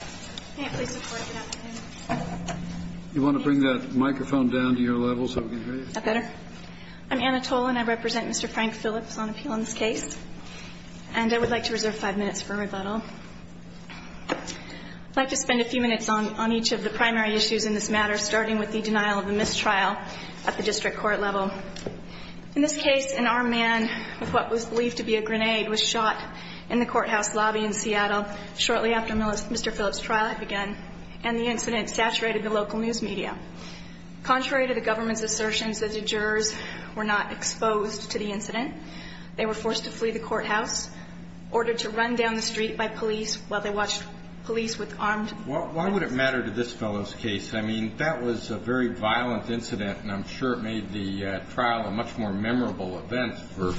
Can I please have support for that? You want to bring that microphone down to your level so we can hear you? Is that better? I'm Anna Tolan. I represent Mr. Frank Philips on appeal in this case. And I would like to reserve five minutes for rebuttal. I'd like to spend a few minutes on each of the primary issues in this matter, starting with the denial of a mistrial at the district court level. In this case, an armed man with what was believed to be a grenade was shot in the courthouse lobby in Seattle shortly after Mr. Philips' trial had begun, and the incident saturated the local news media. Contrary to the government's assertions that the jurors were not exposed to the incident, they were forced to flee the courthouse, ordered to run down the street by police while they watched police with armed men. Why would it matter to this fellow's case? I mean, that was a very violent incident, and I'm sure it made the trial a much more memorable event for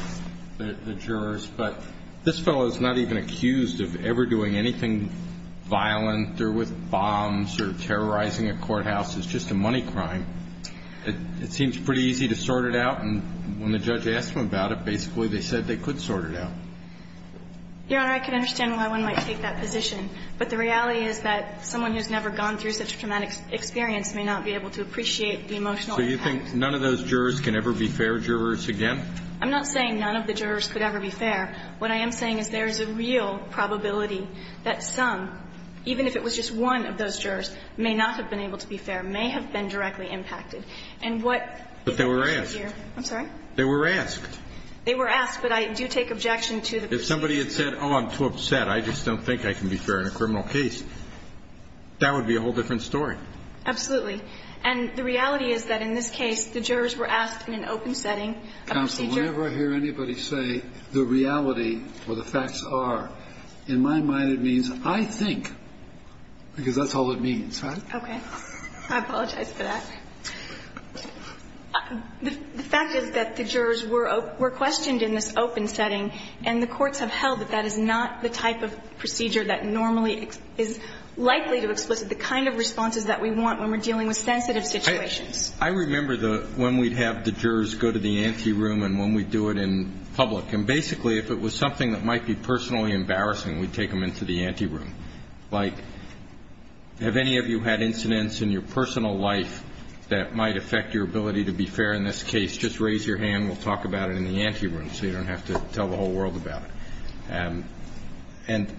the jurors. But this fellow is not even accused of ever doing anything violent or with bombs or terrorizing a courthouse. It's just a money crime. It seems pretty easy to sort it out. And when the judge asked them about it, basically they said they could sort it out. Your Honor, I can understand why one might take that position. But the reality is that someone who's never gone through such a traumatic experience may not be able to appreciate the emotional impact. So you think none of those jurors can ever be fair jurors again? I'm not saying none of the jurors could ever be fair. What I am saying is there is a real probability that some, even if it was just one of those jurors, may not have been able to be fair, may have been directly impacted. And what they were asked. I'm sorry? They were asked. They were asked, but I do take objection to the proceeding. If somebody had said, oh, I'm too upset, I just don't think I can be fair in a criminal case, that would be a whole different story. Absolutely. And the reality is that in this case, the jurors were asked in an open setting a procedure. Counsel, whenever I hear anybody say the reality or the facts are, in my mind it means I think, because that's all it means, right? Okay. I apologize for that. The fact is that the jurors were questioned in this open setting, and the courts have held that that is not the type of procedure that normally is likely to explicit the kind of responses that we want when we're dealing with sensitive situations. I remember when we'd have the jurors go to the ante room and when we'd do it in public. And basically, if it was something that might be personally embarrassing, we'd take them into the ante room. Like, have any of you had incidents in your personal life that might affect your ability to be fair in this case? Just raise your hand, we'll talk about it in the ante room so you don't have to tell the whole world about it.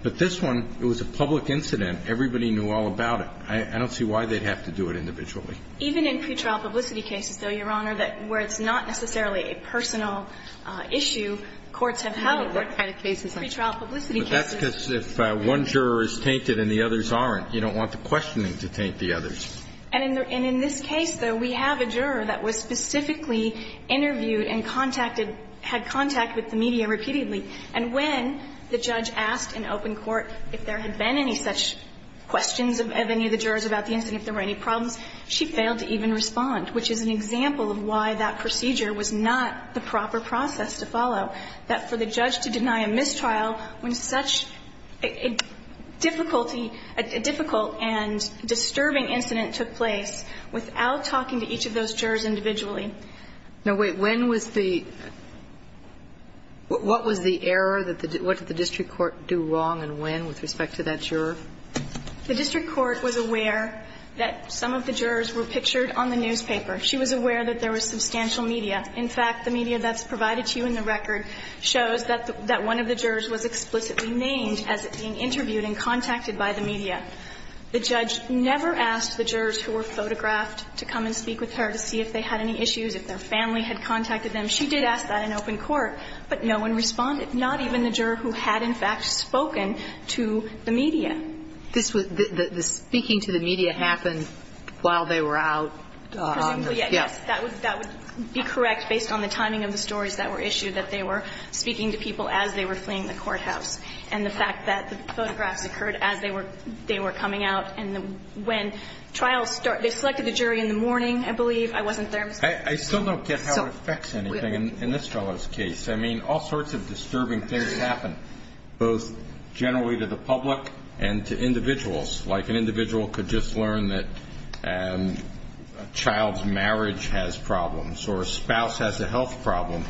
But this one, it was a public incident. Everybody knew all about it. I don't see why they'd have to do it individually. Even in pretrial publicity cases, though, Your Honor, where it's not necessarily a personal issue, courts have held that pretrial publicity cases. But that's because if one juror is tainted and the others aren't, you don't want the questioning to taint the others. And in this case, though, we have a juror that was specifically interviewed and contacted, had contact with the media repeatedly. And when the judge asked in open court if there had been any such questions of any of the jurors about the incident, if there were any problems, she failed to even respond, which is an example of why that procedure was not the proper process to follow. That for the judge to deny a mistrial when such a difficulty, a difficult and disturbing incident took place without talking to each of those jurors individually. Now, wait. When was the – what was the error? What did the district court do wrong and when with respect to that juror? The district court was aware that some of the jurors were pictured on the newspaper. She was aware that there was substantial media. In fact, the media that's provided to you in the record shows that one of the jurors was explicitly named as being interviewed and contacted by the media. The judge never asked the jurors who were photographed to come and speak with her to see if they had any issues, if their family had contacted them. She did ask that in open court, but no one responded, not even the juror who had, in fact, spoken to the media. This was – the speaking to the media happened while they were out on the – Presumably, yes. Yes. That would be correct based on the timing of the stories that were issued, that they were speaking to people as they were fleeing the courthouse and the fact that the photographs occurred as they were coming out. And when trials start – they selected the jury in the morning, I believe. I wasn't there. I still don't get how it affects anything in this fellow's case. I mean, all sorts of disturbing things happen, both generally to the public and to individuals. Like an individual could just learn that a child's marriage has problems or a spouse has a health problem.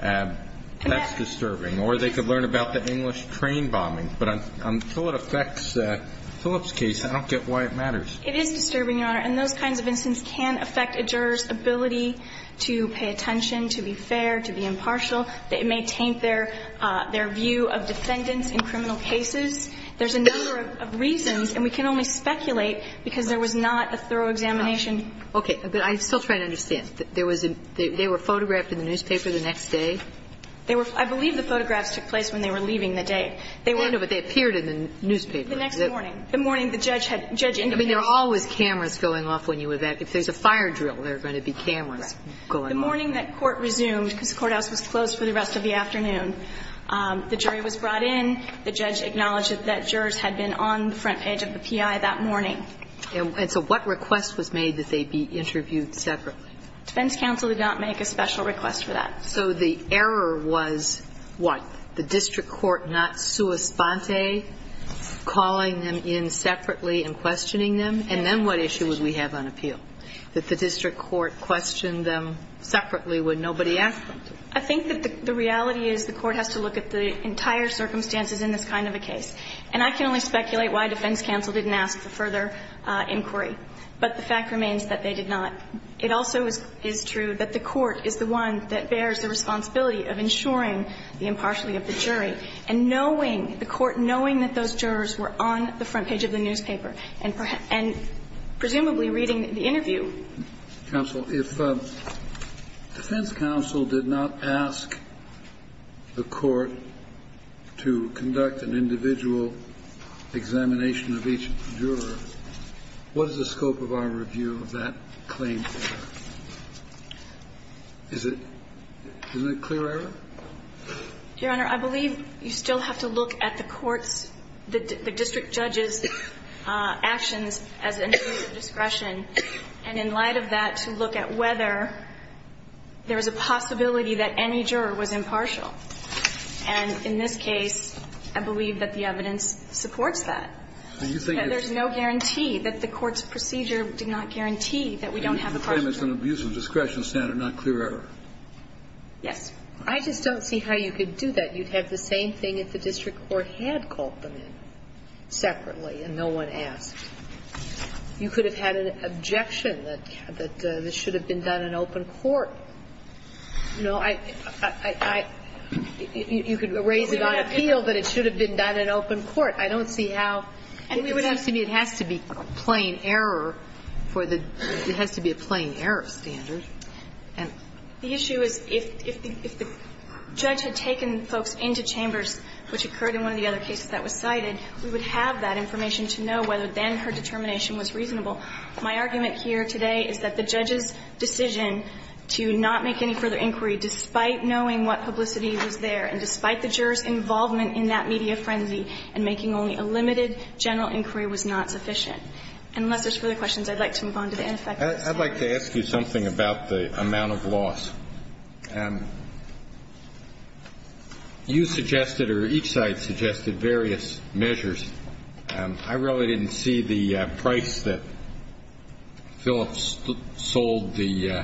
That's disturbing. Or they could learn about the English train bombing. But on Philip's case, I don't get why it matters. It is disturbing, Your Honor. And those kinds of incidents can affect a juror's ability to pay attention, to be fair, to be impartial. It may taint their view of defendants in criminal cases. There's a number of reasons, and we can only speculate because there was not a thorough examination. Okay. But I'm still trying to understand. There was a – they were photographed in the newspaper the next day? They were – I believe the photographs took place when they were leaving the day. They were – No, but they appeared in the newspaper. The next morning. The morning the judge had – judge indicated. I mean, there are always cameras going off when you would – if there's a fire drill, there are going to be cameras going off. Right. The morning that court resumed, because the courthouse was closed for the rest of the afternoon, the jury was brought in. The judge acknowledged that that jurors had been on the front page of the PI that morning. And so what request was made that they be interviewed separately? Defense counsel did not make a special request for that. So the error was what? The district court not sua sponte, calling them in separately and questioning them? And then what issue would we have on appeal? That the district court questioned them separately when nobody asked them to. I think that the reality is the court has to look at the entire circumstances in this kind of a case. And I can only speculate why defense counsel didn't ask for further inquiry. But the fact remains that they did not. It also is true that the court is the one that bears the responsibility of ensuring the impartiality of the jury and knowing, the court knowing that those jurors were on the front page of the newspaper and presumably reading the interview. Counsel, if defense counsel did not ask the court to conduct an individual examination of each juror, what is the scope of our review of that claim? Is it a clear error? Your Honor, I believe you still have to look at the court's, the district judge's actions as an issue of discretion. And in light of that, to look at whether there is a possibility that any juror was impartial. And in this case, I believe that the evidence supports that. There's no guarantee that the court's procedure did not guarantee that we don't have a partial error. It's an abuse of discretion standard, not clear error. Yes. I just don't see how you could do that. You'd have the same thing if the district court had called them in separately and no one asked. You could have had an objection that this should have been done in open court. You know, I, I, I, I, you could raise it on appeal, but it should have been done in open court. I don't see how. And we would have to be, it has to be plain error for the, it has to be a plain error standard. And the issue is if, if the, if the judge had taken folks into chambers, which occurred in one of the other cases that was cited, we would have that information to know whether then her determination was reasonable. My argument here today is that the judge's decision to not make any further inquiry despite knowing what publicity was there and despite the juror's involvement in that media frenzy and making only a limited general inquiry was not sufficient. Unless there's further questions, I'd like to move on to the ineffective side. I'd like to ask you something about the amount of loss. You suggested or each side suggested various measures. I really didn't see the price that Phillips sold the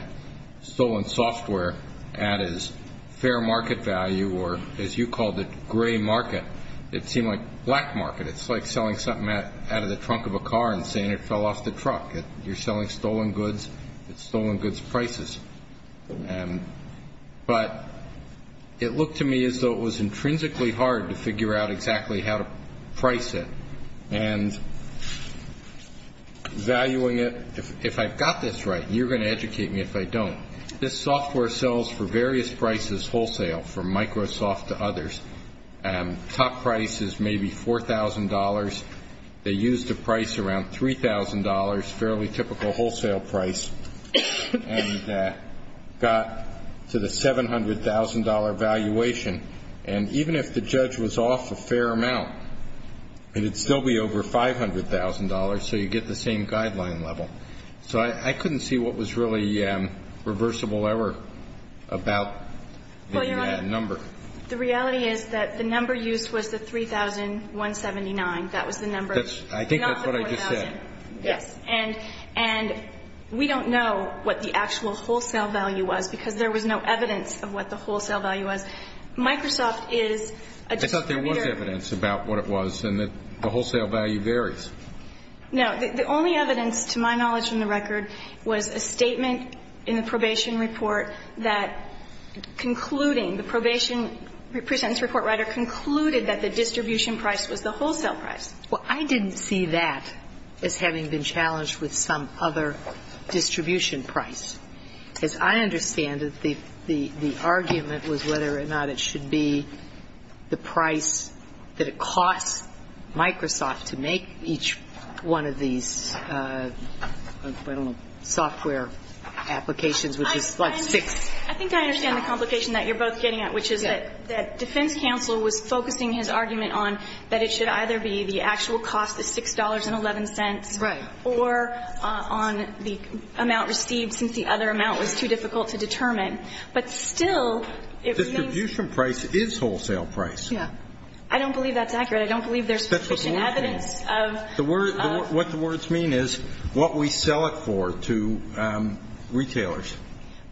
stolen software at as fair market value or as you called it gray market. It seemed like black market. It's like selling something out of the trunk of a car and saying it fell off the truck. You're selling stolen goods at stolen goods prices. But it looked to me as though it was intrinsically hard to figure out exactly how to price it and valuing it. If I've got this right, and you're going to educate me if I don't, this software sells for various prices wholesale from Microsoft to others. Top price is maybe $4,000. They used a price around $3,000, fairly typical wholesale price, and got to the $700,000 valuation. And even if the judge was off a fair amount, it would still be over $500,000, so you get the same guideline level. So I couldn't see what was really reversible ever about the number. The reality is that the number used was the $3,179. That was the number. I think that's what I just said. Yes. And we don't know what the actual wholesale value was because there was no evidence of what the wholesale value was. Microsoft is a distributor. I thought there was evidence about what it was and that the wholesale value varies. No. The only evidence, to my knowledge in the record, was a statement in the probation report that concluding, the probation presentence report writer concluded that the distribution price was the wholesale price. Well, I didn't see that as having been challenged with some other distribution price. As I understand it, the argument was whether or not it should be the price that it So the problem is that we can't determine the price for each one of these, I don't know, software applications, which is like six. I think I understand the complication that you're both getting at, which is that defense counsel was focusing his argument on that it should either be the actual cost of $6.11. Right. Or on the amount received since the other amount was too difficult to determine. But still, it remains. Distribution price is wholesale price. Yeah. I don't believe that's accurate. I don't believe there's sufficient evidence of. What the words mean is what we sell it for to retailers.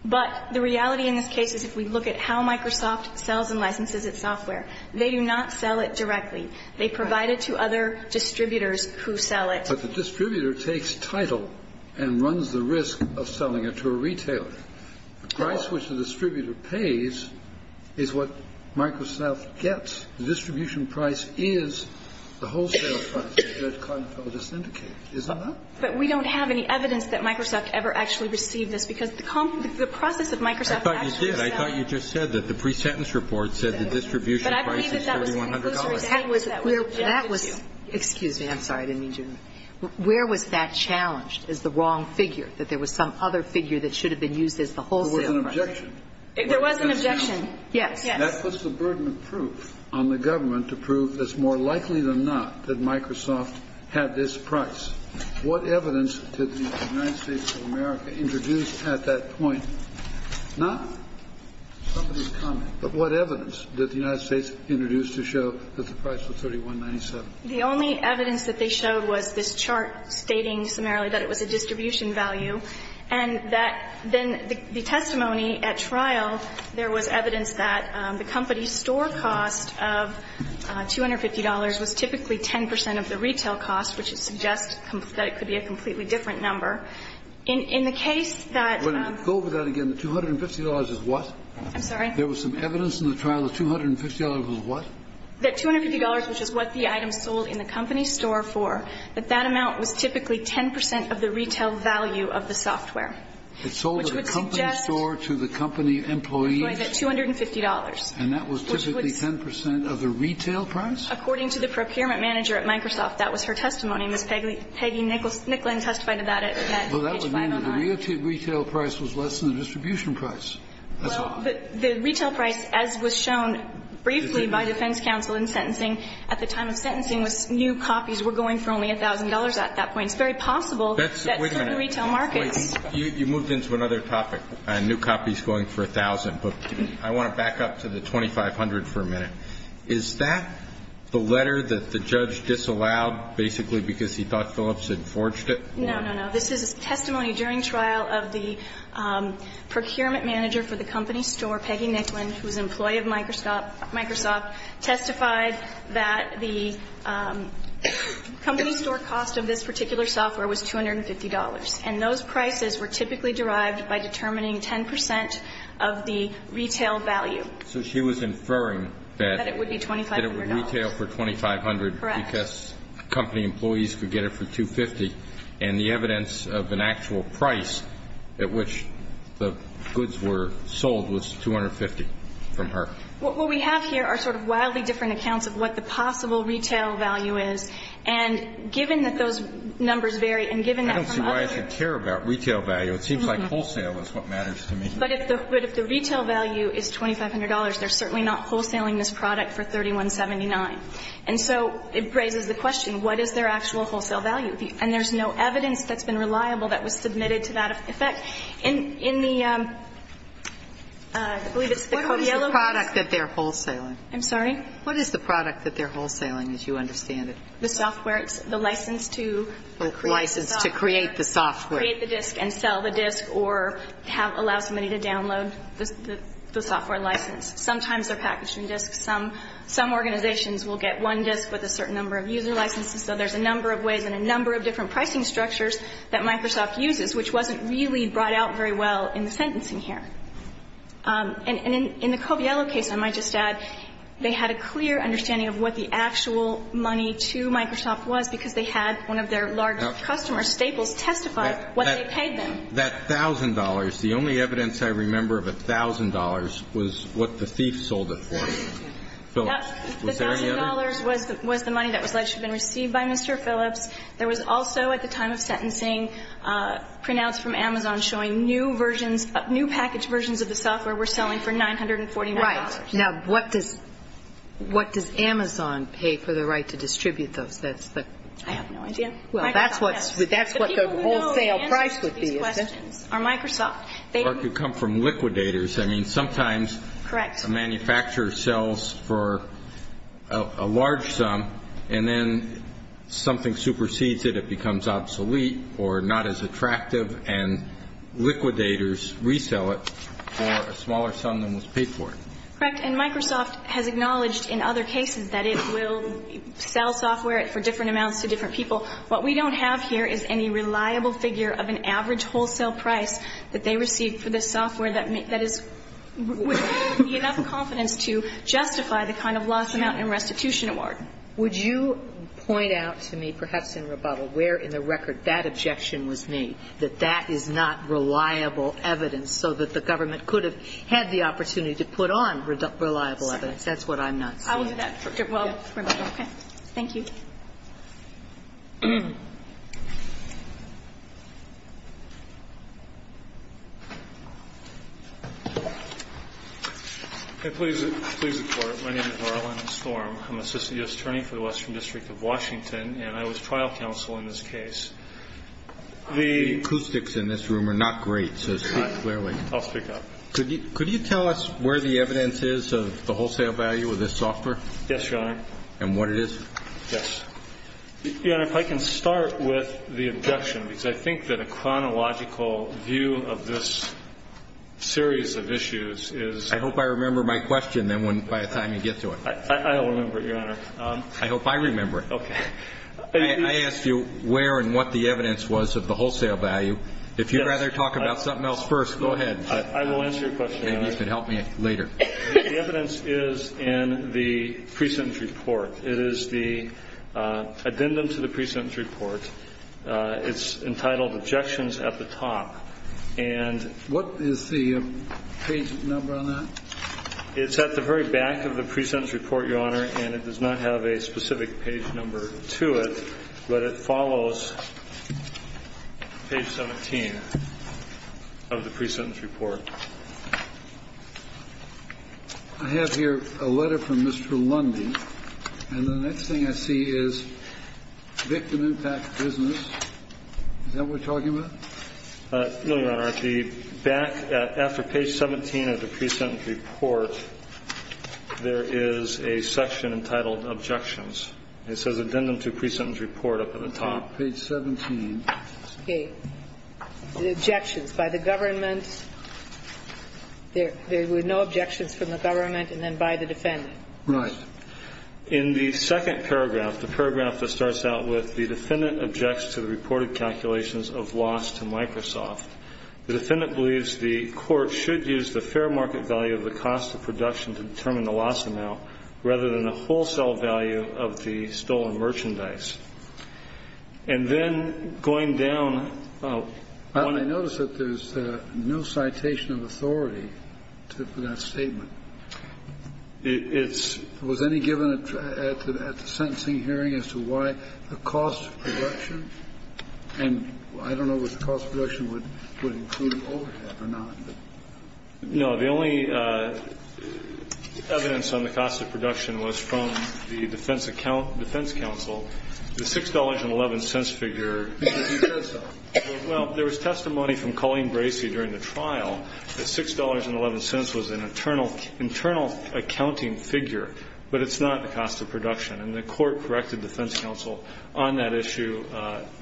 But the reality in this case is if we look at how Microsoft sells and licenses its software, they do not sell it directly. Right. They provide it to other distributors who sell it. But the distributor takes title and runs the risk of selling it to a retailer. The price which the distributor pays is what Microsoft gets. The distribution price is the wholesale price that cardiologists indicate. Isn't that right? But we don't have any evidence that Microsoft ever actually received this because the process that Microsoft actually. I thought you did. I thought you just said that the pre-sentence report said the distribution price is $3,100. But I believe that that was. Excuse me. I'm sorry. I didn't mean to. Where was that challenged as the wrong figure, that there was some other figure that should have been used as the wholesale price? There was an objection. There was an objection. Yes. Yes. That puts the burden of proof on the government to prove it's more likely than not that Microsoft had this price. What evidence did the United States of America introduce at that point? Not somebody's comment, but what evidence did the United States introduce to show that the price was $3,197? The only evidence that they showed was this chart stating summarily that it was a distribution value and that then the testimony at trial, there was evidence that the company's store cost of $250 was typically 10 percent of the retail cost, which suggests that it could be a completely different number. In the case that. Go over that again. The $250 is what? I'm sorry? There was some evidence in the trial the $250 was what? That $250, which is what the item sold in the company's store for, that that amount was typically 10 percent of the retail value of the software, which would suggest that $250. And that was typically 10 percent of the retail price? According to the procurement manager at Microsoft, that was her testimony. Ms. Peggy Nicklin testified to that at page 509. Well, that would mean that the retail price was less than the distribution price. That's all. But the retail price, as was shown briefly by defense counsel in sentencing at the time of sentencing, was new copies were going for only $1,000 at that point. It's very possible that certain retail markets. Wait a minute. You moved into another topic, new copies going for 1,000. But I want to back up to the $2,500 for a minute. Is that the letter that the judge disallowed basically because he thought Phillips had forged it? No, no, no. This is testimony during trial of the procurement manager for the company store, Peggy Nicklin, who is an employee of Microsoft, testified that the company store cost of this particular software was $250. And those prices were typically derived by determining 10 percent of the retail value. So she was inferring that it would be $2,500. That it would retail for $2,500. Correct. Because company employees could get it for $250. And the evidence of an actual price at which the goods were sold was $250 from her. What we have here are sort of wildly different accounts of what the possible retail value is. And given that those numbers vary and given that from others. I don't see why I should care about retail value. It seems like wholesale is what matters to me. But if the retail value is $2,500, they're certainly not wholesaling this product for $3,179. And so it raises the question, what is their actual wholesale value? And there's no evidence that's been reliable that was submitted to that effect. In the, I believe it's the Cordiello case. What is the product that they're wholesaling? I'm sorry? What is the product that they're wholesaling, as you understand it? The software. It's the license to create the software. License to create the software. Create the disk and sell the disk or allow somebody to download the software license. Sometimes they're packaging disks. Some organizations will get one disk with a certain number of user licenses. So there's a number of ways and a number of different pricing structures that Microsoft uses, which wasn't really brought out very well in the sentencing here. And in the Cordiello case, I might just add, they had a clear understanding of what the actual money to Microsoft was, because they had one of their large customers, Staples, testify what they paid them. That $1,000, the only evidence I remember of $1,000 was what the thief sold it for. Was there any other? The $1,000 was the money that was alleged to have been received by Mr. Phillips. There was also, at the time of sentencing, printouts from Amazon showing new versions, new package versions of the software were selling for $949. Right. Now, what does Amazon pay for the right to distribute those? I have no idea. Well, that's what the wholesale price would be. The people who know the answers to these questions are Microsoft. Or could come from liquidators. I mean, sometimes. Correct. A manufacturer sells for a large sum, and then something supersedes it, it becomes obsolete or not as attractive, and liquidators resell it for a smaller sum than was paid for it. Correct. And Microsoft has acknowledged in other cases that it will sell software for different amounts to different people. What we don't have here is any reliable figure of an average wholesale price that they receive for this software that is, would be enough confidence to justify the kind of loss amount and restitution award. Would you point out to me, perhaps in rebuttal, where in the record that objection was made, that that is not reliable evidence, so that the government could have had the opportunity to put on reliable evidence? That's what I'm not seeing. I will do that for rebuttal. Okay. Thank you. Please report. My name is Marlon Storm. I'm an assistant U.S. attorney for the Western District of Washington, and I was trial counsel in this case. The acoustics in this room are not great, so speak clearly. I'll speak up. Could you tell us where the evidence is of the wholesale value of this software? Yes, Your Honor. And what it is? Yes, Your Honor. Your Honor, if I can start with the objection, because I think that a chronological view of this series of issues is... I hope I remember my question by the time you get to it. I will remember it, Your Honor. I hope I remember it. Okay. I asked you where and what the evidence was of the wholesale value. If you'd rather talk about something else first, go ahead. I will answer your question, Your Honor. Maybe you could help me later. The evidence is in the present report. It is the addendum to the present report. It's entitled Objections at the Top. And what is the page number on that? It's at the very back of the present report, Your Honor, and it does not have a specific page number to it, but it follows page 17 of the present report. I have here a letter from Mr. Lundy, and the next thing I see is victim impact business. Is that what we're talking about? No, Your Honor. At the back, after page 17 of the present report, there is a section entitled Objections. It says addendum to present report up at the top. Page 17. Okay. Objections by the government. There were no objections from the government, and then by the defendant. Right. In the second paragraph, the paragraph that starts out with the defendant objects to the reported calculations of loss to Microsoft, the defendant believes the court should use the fair market value of the cost of production to determine the loss amount rather than the wholesale value of the stolen merchandise. And then going down. I notice that there's no citation of authority for that statement. Was any given at the sentencing hearing as to why the cost of production? And I don't know if the cost of production would include overhead or not. No. The only evidence on the cost of production was from the defense counsel. The $6.11 figure, he said so. Well, there was testimony from Colleen Bracey during the trial that $6.11 was an internal accounting figure, but it's not the cost of production. And the court corrected the defense counsel on that issue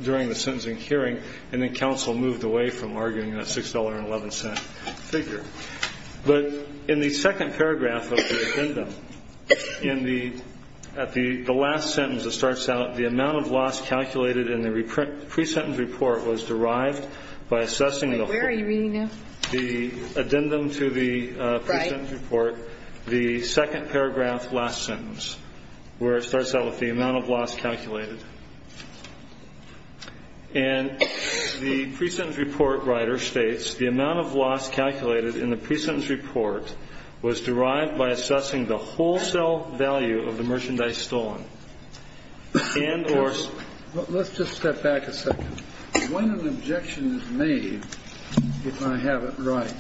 during the sentencing hearing, and then counsel moved away from arguing that $6.11 figure. But in the second paragraph of the addendum, at the last sentence that starts out, the amount of loss calculated in the pre-sentence report was derived by assessing the whole. Where are you reading now? The addendum to the pre-sentence report, the second paragraph, last sentence, where it starts out with the amount of loss calculated. And the pre-sentence report writer states the amount of loss calculated in the pre-sentence report was derived by assessing the wholesale value of the merchandise stolen and or. Let's just step back a second. When an objection is made, if I have it right,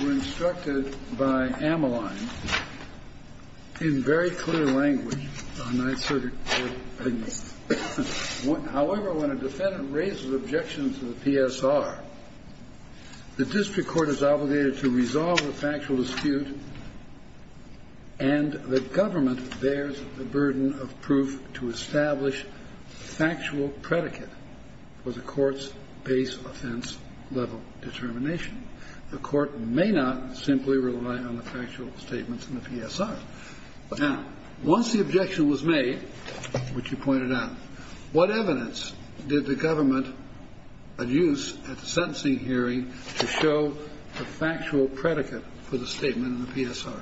we're instructed by Ameline in very clear language. However, when a defendant raises objections to the PSR, the district court is obligated to resolve the factual dispute and the government bears the burden of proof to establish factual predicate for the court's base offense level determination. The court may not simply rely on the factual statements in the PSR. Now, once the objection was made, which you pointed out, what evidence did the government use at the sentencing hearing to show the factual predicate for the statement in the PSR?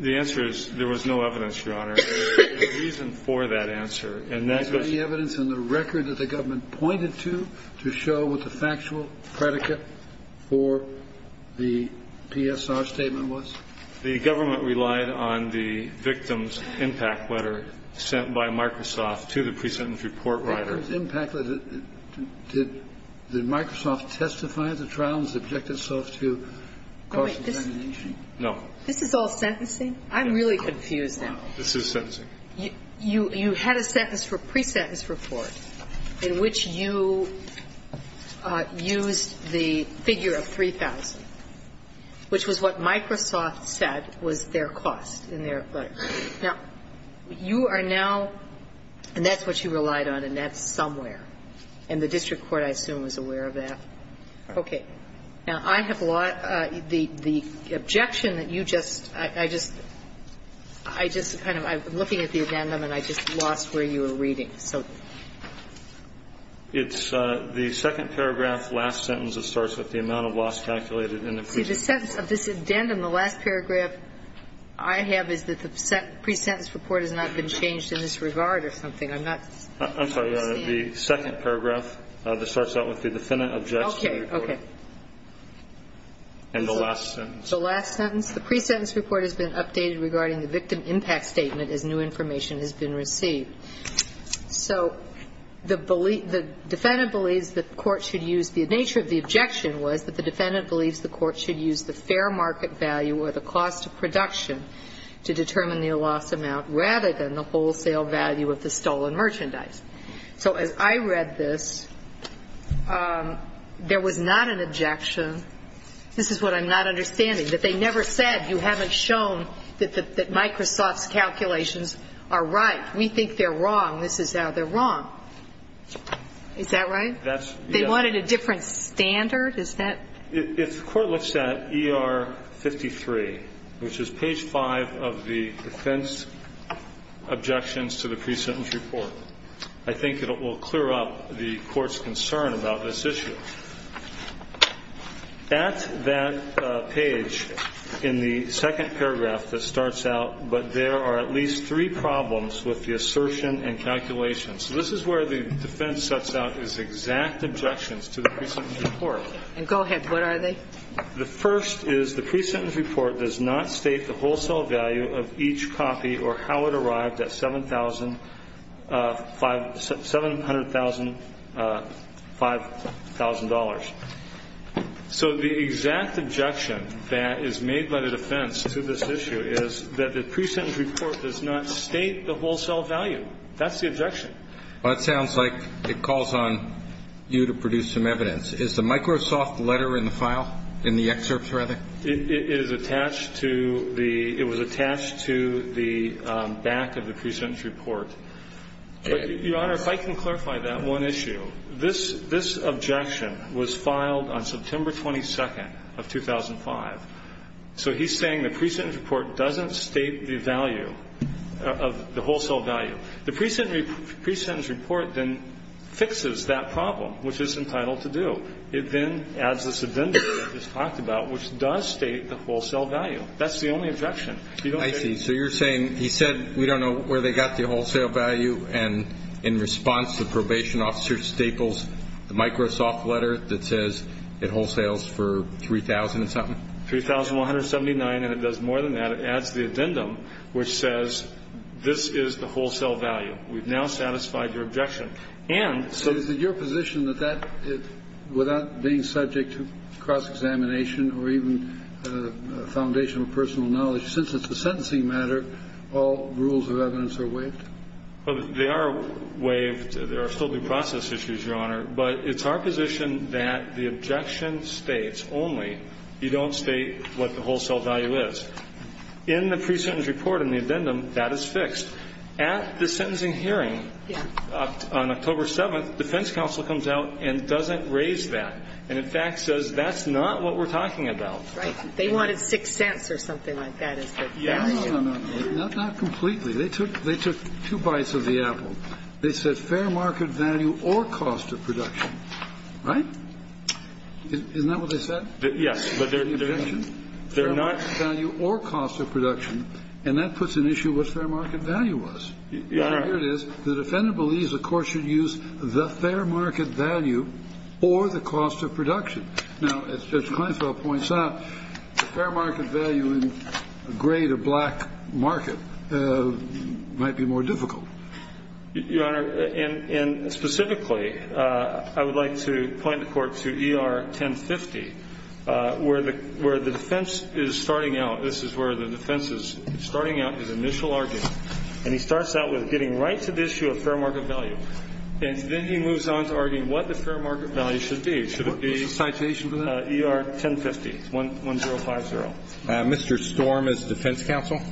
The answer is there was no evidence, Your Honor. There was no reason for that answer. And that's what the evidence in the record that the government pointed to, to show what the factual predicate for the PSR statement was? The government relied on the victim's impact letter sent by Microsoft to the pre-sentence report writer. The victim's impact letter? Did Microsoft testify at the trial and subject itself to causal domination? No. This is all sentencing? I'm really confused now. This is sentencing. You had a sentence for pre-sentence report in which you used the figure of 3,000, which was what Microsoft said was their cost in their letter. Now, you are now – and that's what you relied on, and that's somewhere. And the district court, I assume, was aware of that. Okay. Now, I have a lot – the objection that you just – I just – I just kind of – I'm looking at the addendum, and I just lost where you were reading, so. It's the second paragraph, last sentence that starts with the amount of loss calculated in the pre-sentence. See, the sentence of this addendum, the last paragraph I have is that the pre-sentence report has not been changed in this regard or something. I'm not – I'm sorry, Your Honor. The second paragraph that starts out with the defendant objects to the report. Okay. Okay. And the last sentence. The last sentence. The pre-sentence report has been updated regarding the victim impact statement as new information has been received. So the defendant believes the court should use – the nature of the objection was that the defendant believes the court should use the fair market value or the cost of production to determine the loss amount rather than the wholesale value of the stolen merchandise. So as I read this, there was not an objection – this is what I'm not understanding – that they never said, you haven't shown that Microsoft's calculations are right. We think they're wrong. This is how they're wrong. Is that right? That's – yes. Is there a standard? Is that – If the court looks at ER-53, which is page 5 of the defense objections to the pre-sentence report, I think it will clear up the court's concern about this issue. At that page in the second paragraph that starts out, but there are at least three problems with the assertion and calculations. So this is where the defense sets out its exact objections to the pre-sentence report. And go ahead. What are they? The first is the pre-sentence report does not state the wholesale value of each copy or how it arrived at $700,000 – $500,000. So the exact objection that is made by the defense to this issue is that the pre-sentence report does not state the wholesale value. That's the objection. Well, it sounds like it calls on you to produce some evidence. Is the Microsoft letter in the file, in the excerpts, rather? It is attached to the – it was attached to the back of the pre-sentence report. Your Honor, if I can clarify that one issue. This objection was filed on September 22nd of 2005. So he's saying the pre-sentence report doesn't state the value of the wholesale value. The pre-sentence report then fixes that problem, which it's entitled to do. It then adds this addendum that I just talked about, which does state the wholesale value. That's the only objection. I see. So you're saying he said we don't know where they got the wholesale value, and in response, the probation officer staples the Microsoft letter that says it wholesales for $3,000-something? $3,179, and it does more than that. It adds the addendum, which says this is the wholesale value. We've now satisfied your objection. And so – Is it your position that that, without being subject to cross-examination or even foundational personal knowledge, since it's a sentencing matter, all rules of evidence are waived? They are waived. There are still due process issues, Your Honor. But it's our position that the objection states only you don't state what the wholesale value is. In the presentence report, in the addendum, that is fixed. At the sentencing hearing on October 7th, defense counsel comes out and doesn't raise that, and in fact says that's not what we're talking about. Right. They wanted 6 cents or something like that as the value. No, no, no. Not completely. They took two bites of the apple. They said fair market value or cost of production. Right? Isn't that what they said? Yes. Fair market value or cost of production, and that puts an issue of what fair market value was. Your Honor. Here it is. The defendant believes the court should use the fair market value or the cost of production. Now, as Judge Kleinfeld points out, the fair market value in a gray-to-black market might be more difficult. Your Honor, and specifically, I would like to point the court to ER 1050, where the defense is starting out. This is where the defense is starting out his initial argument. And he starts out with getting right to the issue of fair market value. And then he moves on to arguing what the fair market value should be. Should it be ER 1050, 1-0-5-0?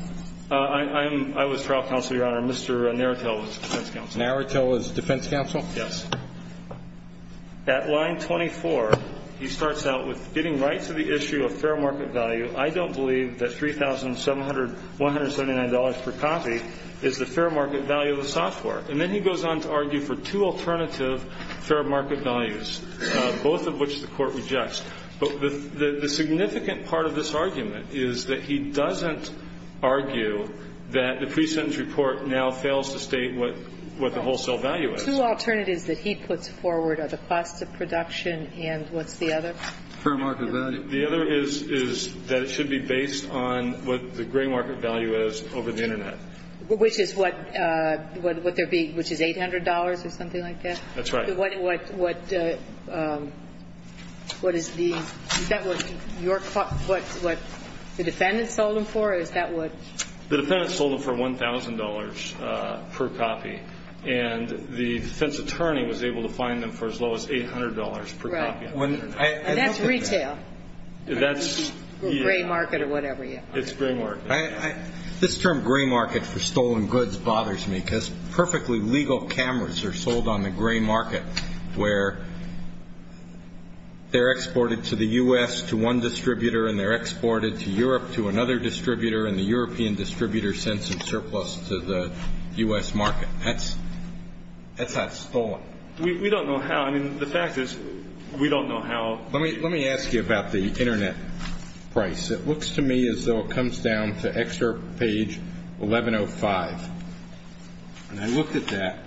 I was trial counsel, Your Honor. Mr. Naretil was defense counsel. Naretil was defense counsel? Yes. At line 24, he starts out with getting right to the issue of fair market value. I don't believe that $3,179 per copy is the fair market value of the software. And then he goes on to argue for two alternative fair market values, both of which the court rejects. But the significant part of this argument is that he doesn't argue that the software now fails to state what the wholesale value is. The two alternatives that he puts forward are the cost of production and what's the other? Fair market value. The other is that it should be based on what the gray market value is over the Internet. Which is what there would be, which is $800 or something like that? That's right. What is the, is that what the defendant sold him for? Is that what? The defendant sold him for $1,000 per copy. And the defense attorney was able to find them for as low as $800 per copy. Right. And that's retail. That's, yeah. Or gray market or whatever, yeah. It's gray market. This term gray market for stolen goods bothers me because perfectly legal cameras are sold on the gray market where they're exported to the U.S. to one distributor and the European distributor sends some surplus to the U.S. market. That's not stolen. We don't know how. I mean, the fact is we don't know how. Let me ask you about the Internet price. It looks to me as though it comes down to excerpt page 1105. And I looked at that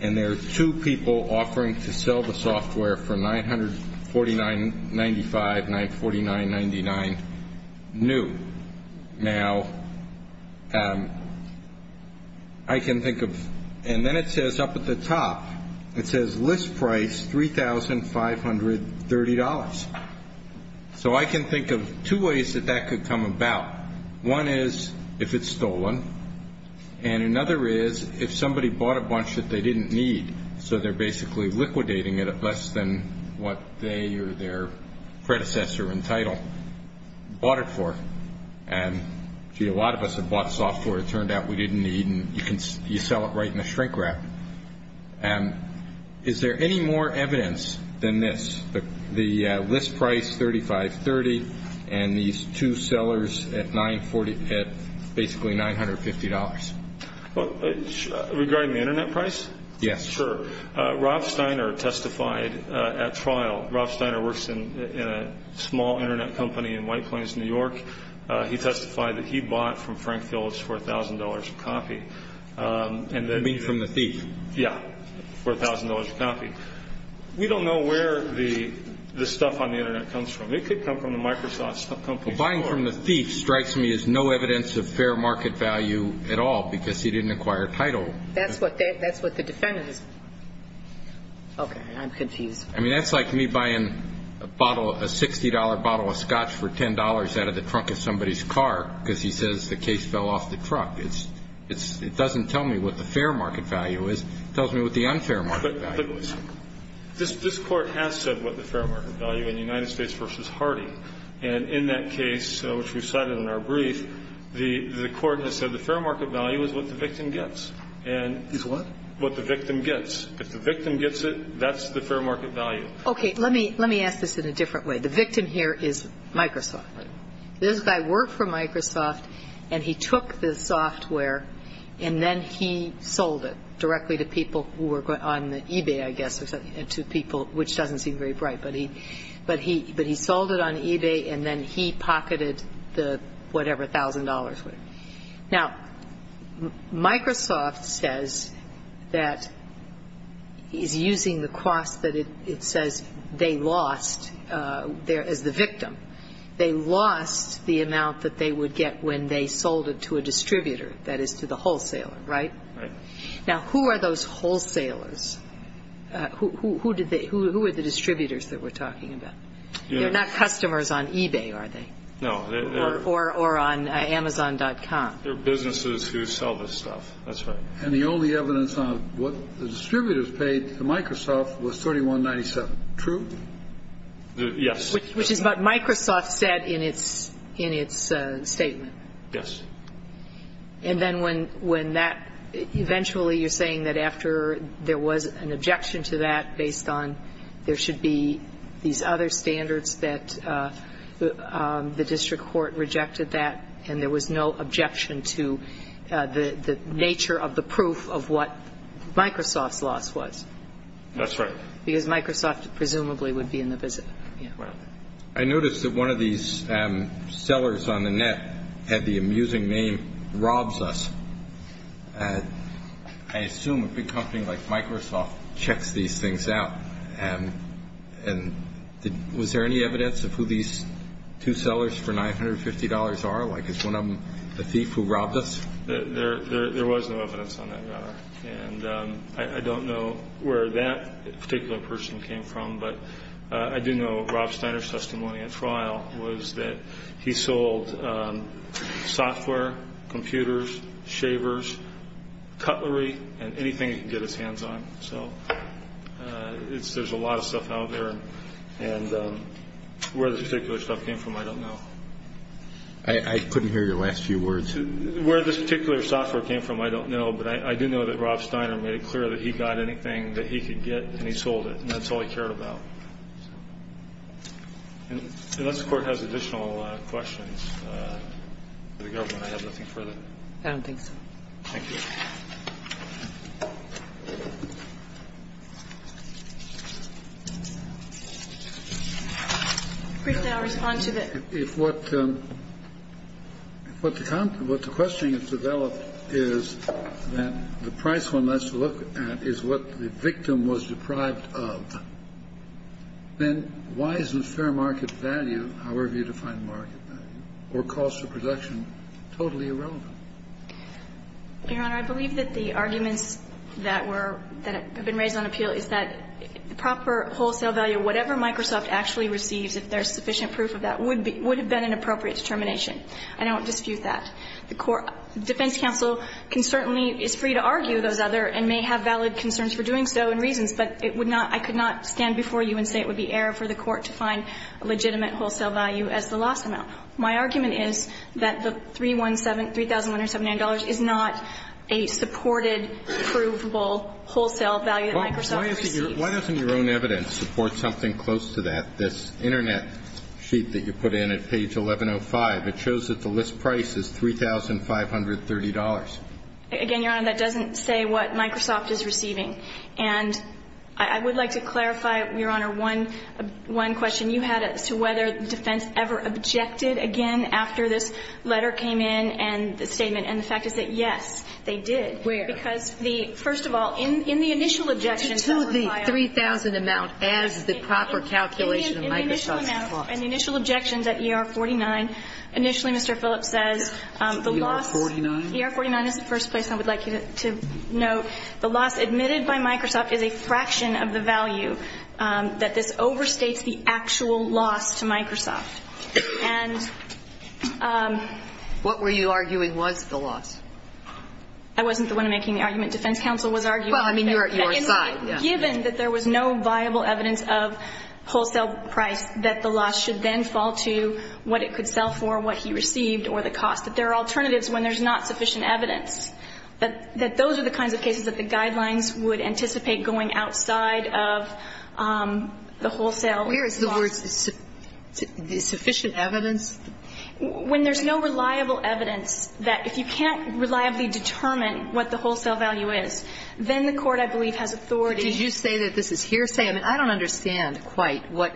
and there are two people offering to sell the software for $949.95, $949.99 new. Now, I can think of, and then it says up at the top, it says list price $3,530. So I can think of two ways that that could come about. One is if it's stolen. And another is if somebody bought a bunch that they didn't need, so they're basically liquidating it at less than what they or their predecessor in title bought it for. And, gee, a lot of us have bought software it turned out we didn't need, and you sell it right in the shrink wrap. Is there any more evidence than this, the list price $3,530 and these two sellers at basically $950? Regarding the Internet price? Yes. Sure. Rob Steiner testified at trial. Rob Steiner works in a small Internet company in White Plains, New York. He testified that he bought from Frank Phillips for $1,000 a copy. You mean from the thief? Yeah, for $1,000 a copy. We don't know where the stuff on the Internet comes from. It could come from the Microsoft company. Buying from the thief strikes me as no evidence of fair market value at all because he didn't acquire title. That's what the defendant is. Okay. I'm confused. I mean, that's like me buying a $60 bottle of scotch for $10 out of the trunk of somebody's car because he says the case fell off the truck. It doesn't tell me what the fair market value is. It tells me what the unfair market value is. But this Court has said what the fair market value in United States v. Hardy, and in that case, which we cited in our brief, the Court has said the fair market value is what the victim gets. Is what? What the victim gets. If the victim gets it, that's the fair market value. Okay. Let me ask this in a different way. The victim here is Microsoft. Right. This guy worked for Microsoft and he took the software and then he sold it directly to people who were on eBay, I guess, to people, which doesn't seem very bright. But he sold it on eBay and then he pocketed the whatever $1,000 was. Now, Microsoft says that he's using the cost that it says they lost as the victim. They lost the amount that they would get when they sold it to a distributor, that is to the wholesaler, right? Right. Now, who are those wholesalers? Who are the distributors that we're talking about? They're not customers on eBay, are they? No. Or on Amazon.com. They're businesses who sell this stuff. That's right. And the only evidence on what the distributors paid to Microsoft was $31.97. True? Yes. Which is what Microsoft said in its statement. Yes. And then when that eventually you're saying that after there was an objection to that based on there should be these other standards that the district court rejected that and there was no objection to the nature of the proof of what Microsoft's loss was. That's right. Because Microsoft presumably would be in the business. Right. I noticed that one of these sellers on the net had the amusing name Rob's Us. I assume a big company like Microsoft checks these things out. And was there any evidence of who these two sellers for $950 are? Like is one of them a thief who robbed us? There was no evidence on that matter. And I don't know where that particular person came from. But I do know Rob Steiner's testimony at trial was that he sold software, computers, shavers, cutlery, and anything he could get his hands on. So there's a lot of stuff out there. And where this particular stuff came from, I don't know. I couldn't hear your last few words. Where this particular software came from, I don't know. But I do know that Rob Steiner made it clear that he got anything that he could get and he sold it. And that's all he cared about. Unless the Court has additional questions for the government, I have nothing further. I don't think so. Thank you. Briefly, I'll respond to that. If what the question has developed is that the price one has to look at is what the victim was deprived of, then why isn't fair market value, however you define market value, or cost of production totally irrelevant? Your Honor, I believe that the arguments that were that have been raised on appeal is that proper wholesale value, whatever Microsoft actually receives, if there's sufficient proof of that, would have been an appropriate determination. I don't dispute that. The defense counsel can certainly be free to argue those other and may have valid concerns for doing so and reasons, but I could not stand before you and say it would be error for the Court to find a legitimate wholesale value as the loss amount. My argument is that the $3,179 is not a supported, provable wholesale value that Microsoft receives. Why doesn't your own evidence support something close to that, this Internet sheet that you put in at page 1105? It shows that the list price is $3,530. Again, Your Honor, that doesn't say what Microsoft is receiving. And I would like to clarify, Your Honor, one question you had as to whether the defense ever objected again after this letter came in and the statement, and the fact is that yes, they did. Where? Because the, first of all, in the initial objections that were filed. To the 3,000 amount as the proper calculation of Microsoft's loss. In the initial objections at ER-49, initially Mr. Phillips says the loss. ER-49? ER-49 is the first place I would like you to note. The loss admitted by Microsoft is a fraction of the value that this overstates the actual loss to Microsoft. And. What were you arguing was the loss? I wasn't the one making the argument. Defense counsel was arguing that. Well, I mean, you were inside. Given that there was no viable evidence of wholesale price, that the loss should then fall to what it could sell for, what he received, or the cost, that there are alternatives when there's not sufficient evidence, that those are the kinds of cases that the guidelines would anticipate going outside of the wholesale Where is the word sufficient evidence? When there's no reliable evidence, that if you can't reliably determine what the wholesale value is, then the court, I believe, has authority. Did you say that this is hearsay? I mean, I don't understand quite what.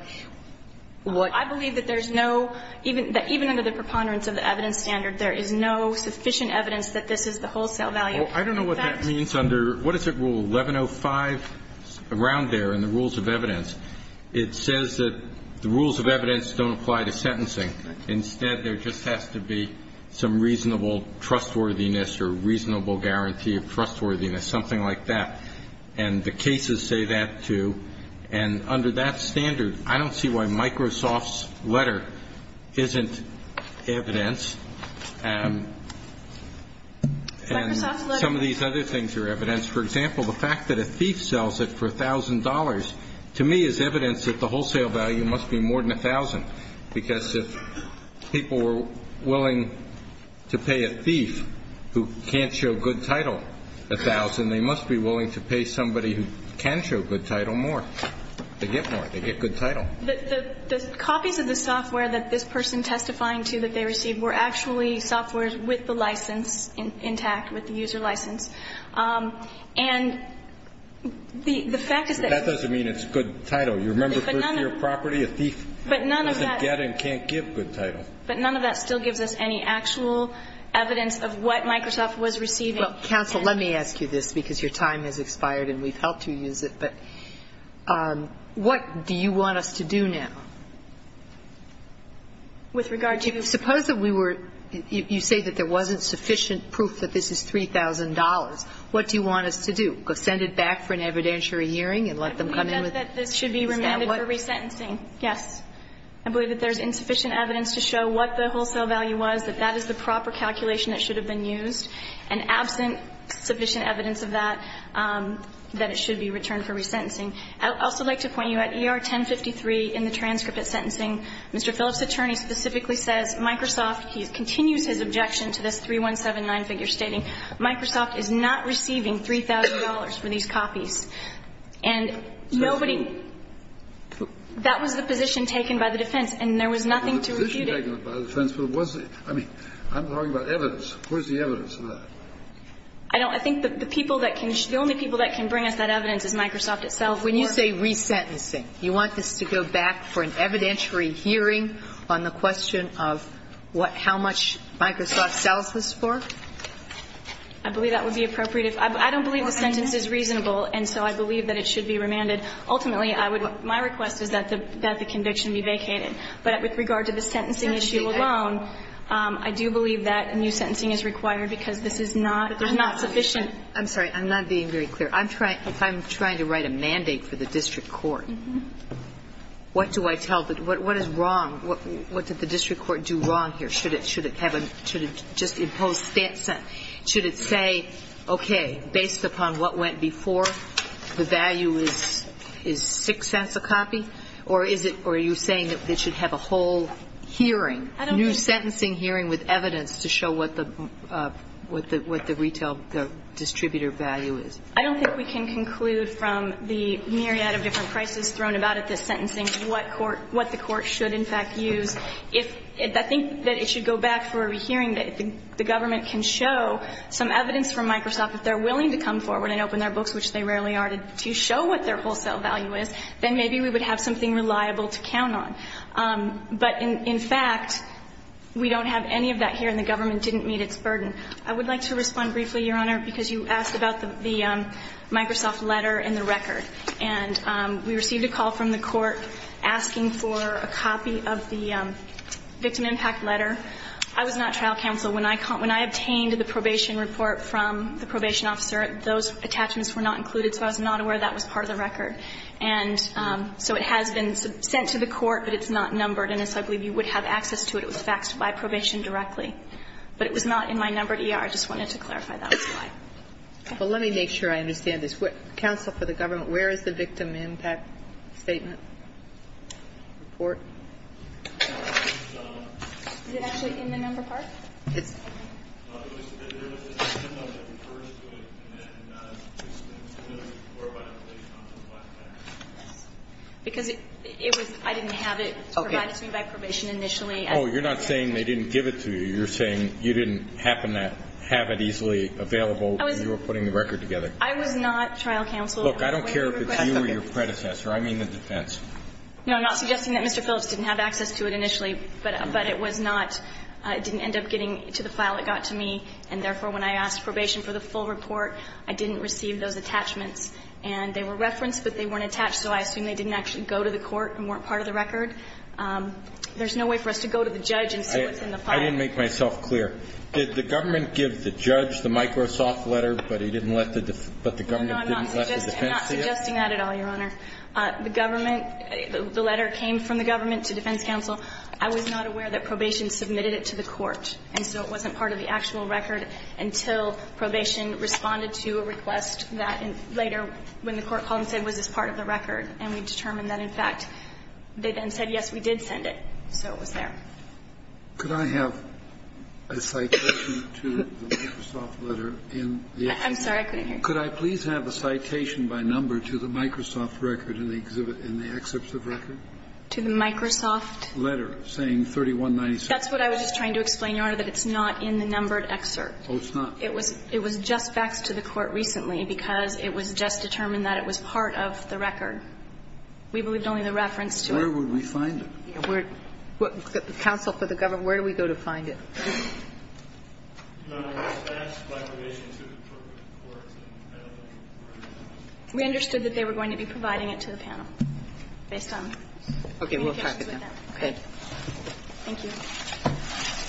I believe that there's no, even under the preponderance of the evidence standard, there is no sufficient evidence that this is the wholesale value. Well, I don't know what that means under, what is it, Rule 1105? Around there in the rules of evidence. It says that the rules of evidence don't apply to sentencing. Instead, there just has to be some reasonable trustworthiness or reasonable guarantee of trustworthiness, something like that. And the cases say that, too. And under that standard, I don't see why Microsoft's letter isn't evidence. And some of these other things are evidence. For example, the fact that a thief sells it for $1,000 to me is evidence that the people were willing to pay a thief who can't show good title, $1,000. They must be willing to pay somebody who can show good title more. They get more. They get good title. The copies of the software that this person testifying to, that they received, were actually software with the license intact, with the user license. And the fact is that you can't give good title. That doesn't mean it's good title. But none of that still gives us any actual evidence of what Microsoft was receiving. Kagan. Well, counsel, let me ask you this, because your time has expired and we've helped you use it. But what do you want us to do now? With regard to the ---- Suppose that we were ---- you say that there wasn't sufficient proof that this is $3,000. What do you want us to do? Send it back for an evidentiary hearing and let them come in with ---- I believe that this should be remanded for resentencing. Yes. I believe that there's insufficient evidence to show what the wholesale value was, that that is the proper calculation that should have been used. And absent sufficient evidence of that, that it should be returned for resentencing. I would also like to point you out, ER 1053 in the transcript of sentencing, Mr. Phillips' attorney specifically says Microsoft ---- he continues his objection to this 3179 figure stating Microsoft is not receiving $3,000 for these copies. And nobody ---- That was the position taken by the defense. And there was nothing to refute it. That was the position taken by the defense. But what's the ---- I mean, I'm talking about evidence. Where's the evidence of that? I don't ---- I think the people that can ---- the only people that can bring us that evidence is Microsoft itself. When you say resentencing, you want this to go back for an evidentiary hearing on the question of what ---- how much Microsoft sells this for? I believe that would be appropriate. I don't believe the sentence is reasonable. And so I believe that it should be remanded. Ultimately, I would ---- my request is that the conviction be vacated. But with regard to the sentencing issue alone, I do believe that new sentencing is required because this is not sufficient. I'm sorry. I'm not being very clear. If I'm trying to write a mandate for the district court, what do I tell the ---- what is wrong? What did the district court do wrong here? Should it have a ---- should it just impose ---- should it say, okay, based upon what we have, the value is 6 cents a copy? Or is it ---- or are you saying that it should have a whole hearing, new sentencing hearing with evidence to show what the ---- what the retail distributor value is? I don't think we can conclude from the myriad of different prices thrown about at this sentencing what court ---- what the court should, in fact, use. If ---- I think that it should go back for a hearing that the government can show some evidence from Microsoft, if they're willing to come forward and open their books, which they rarely are, to show what their wholesale value is, then maybe we would have something reliable to count on. But in fact, we don't have any of that here and the government didn't meet its burden. I would like to respond briefly, Your Honor, because you asked about the Microsoft letter and the record. And we received a call from the court asking for a copy of the victim impact letter. I was not trial counsel. When I obtained the probation report from the probation officer, those attachments were not included, so I was not aware that was part of the record. And so it has been sent to the court, but it's not numbered. And so I believe you would have access to it. It was faxed by probation directly. But it was not in my numbered E.R. I just wanted to clarify that was why. Okay. Well, let me make sure I understand this. Counsel for the government, where is the victim impact statement report? Is it actually in the numbered part? Yes. There was a memo that refers to it, and then there was a report by the probation officer. Because I didn't have it provided to me by probation initially. Oh, you're not saying they didn't give it to you. You're saying you didn't happen to have it easily available. You were putting the record together. I was not trial counsel. Look, I don't care if it's you or your predecessor. I mean the defense. No, I'm not suggesting that Mr. Phillips didn't have access to it initially. But it was not. It didn't end up getting to the file it got to me. And therefore, when I asked probation for the full report, I didn't receive those attachments. And they were referenced, but they weren't attached. So I assume they didn't actually go to the court and weren't part of the record. There's no way for us to go to the judge and see what's in the file. I didn't make myself clear. Did the government give the judge the Microsoft letter, but he didn't let the defense see it? No, I'm not suggesting that at all, Your Honor. The government, the letter came from the government to defense counsel. I was not aware that probation submitted it to the court. And so it wasn't part of the actual record until probation responded to a request that later when the court called and said, was this part of the record? And we determined that, in fact, they then said, yes, we did send it. So it was there. Could I have a citation to the Microsoft letter? I'm sorry. I couldn't hear you. Could I please have a citation by number to the Microsoft record in the excerpt of record? To the Microsoft? Letter saying 3196. That's what I was just trying to explain, Your Honor, that it's not in the numbered excerpt. Oh, it's not? It was just faxed to the court recently because it was just determined that it was part of the record. We believed only the reference to it. Where would we find it? Counsel for the government, where do we go to find it? We understood that they were going to be providing it to the panel based on communications with them. Okay. Thank you.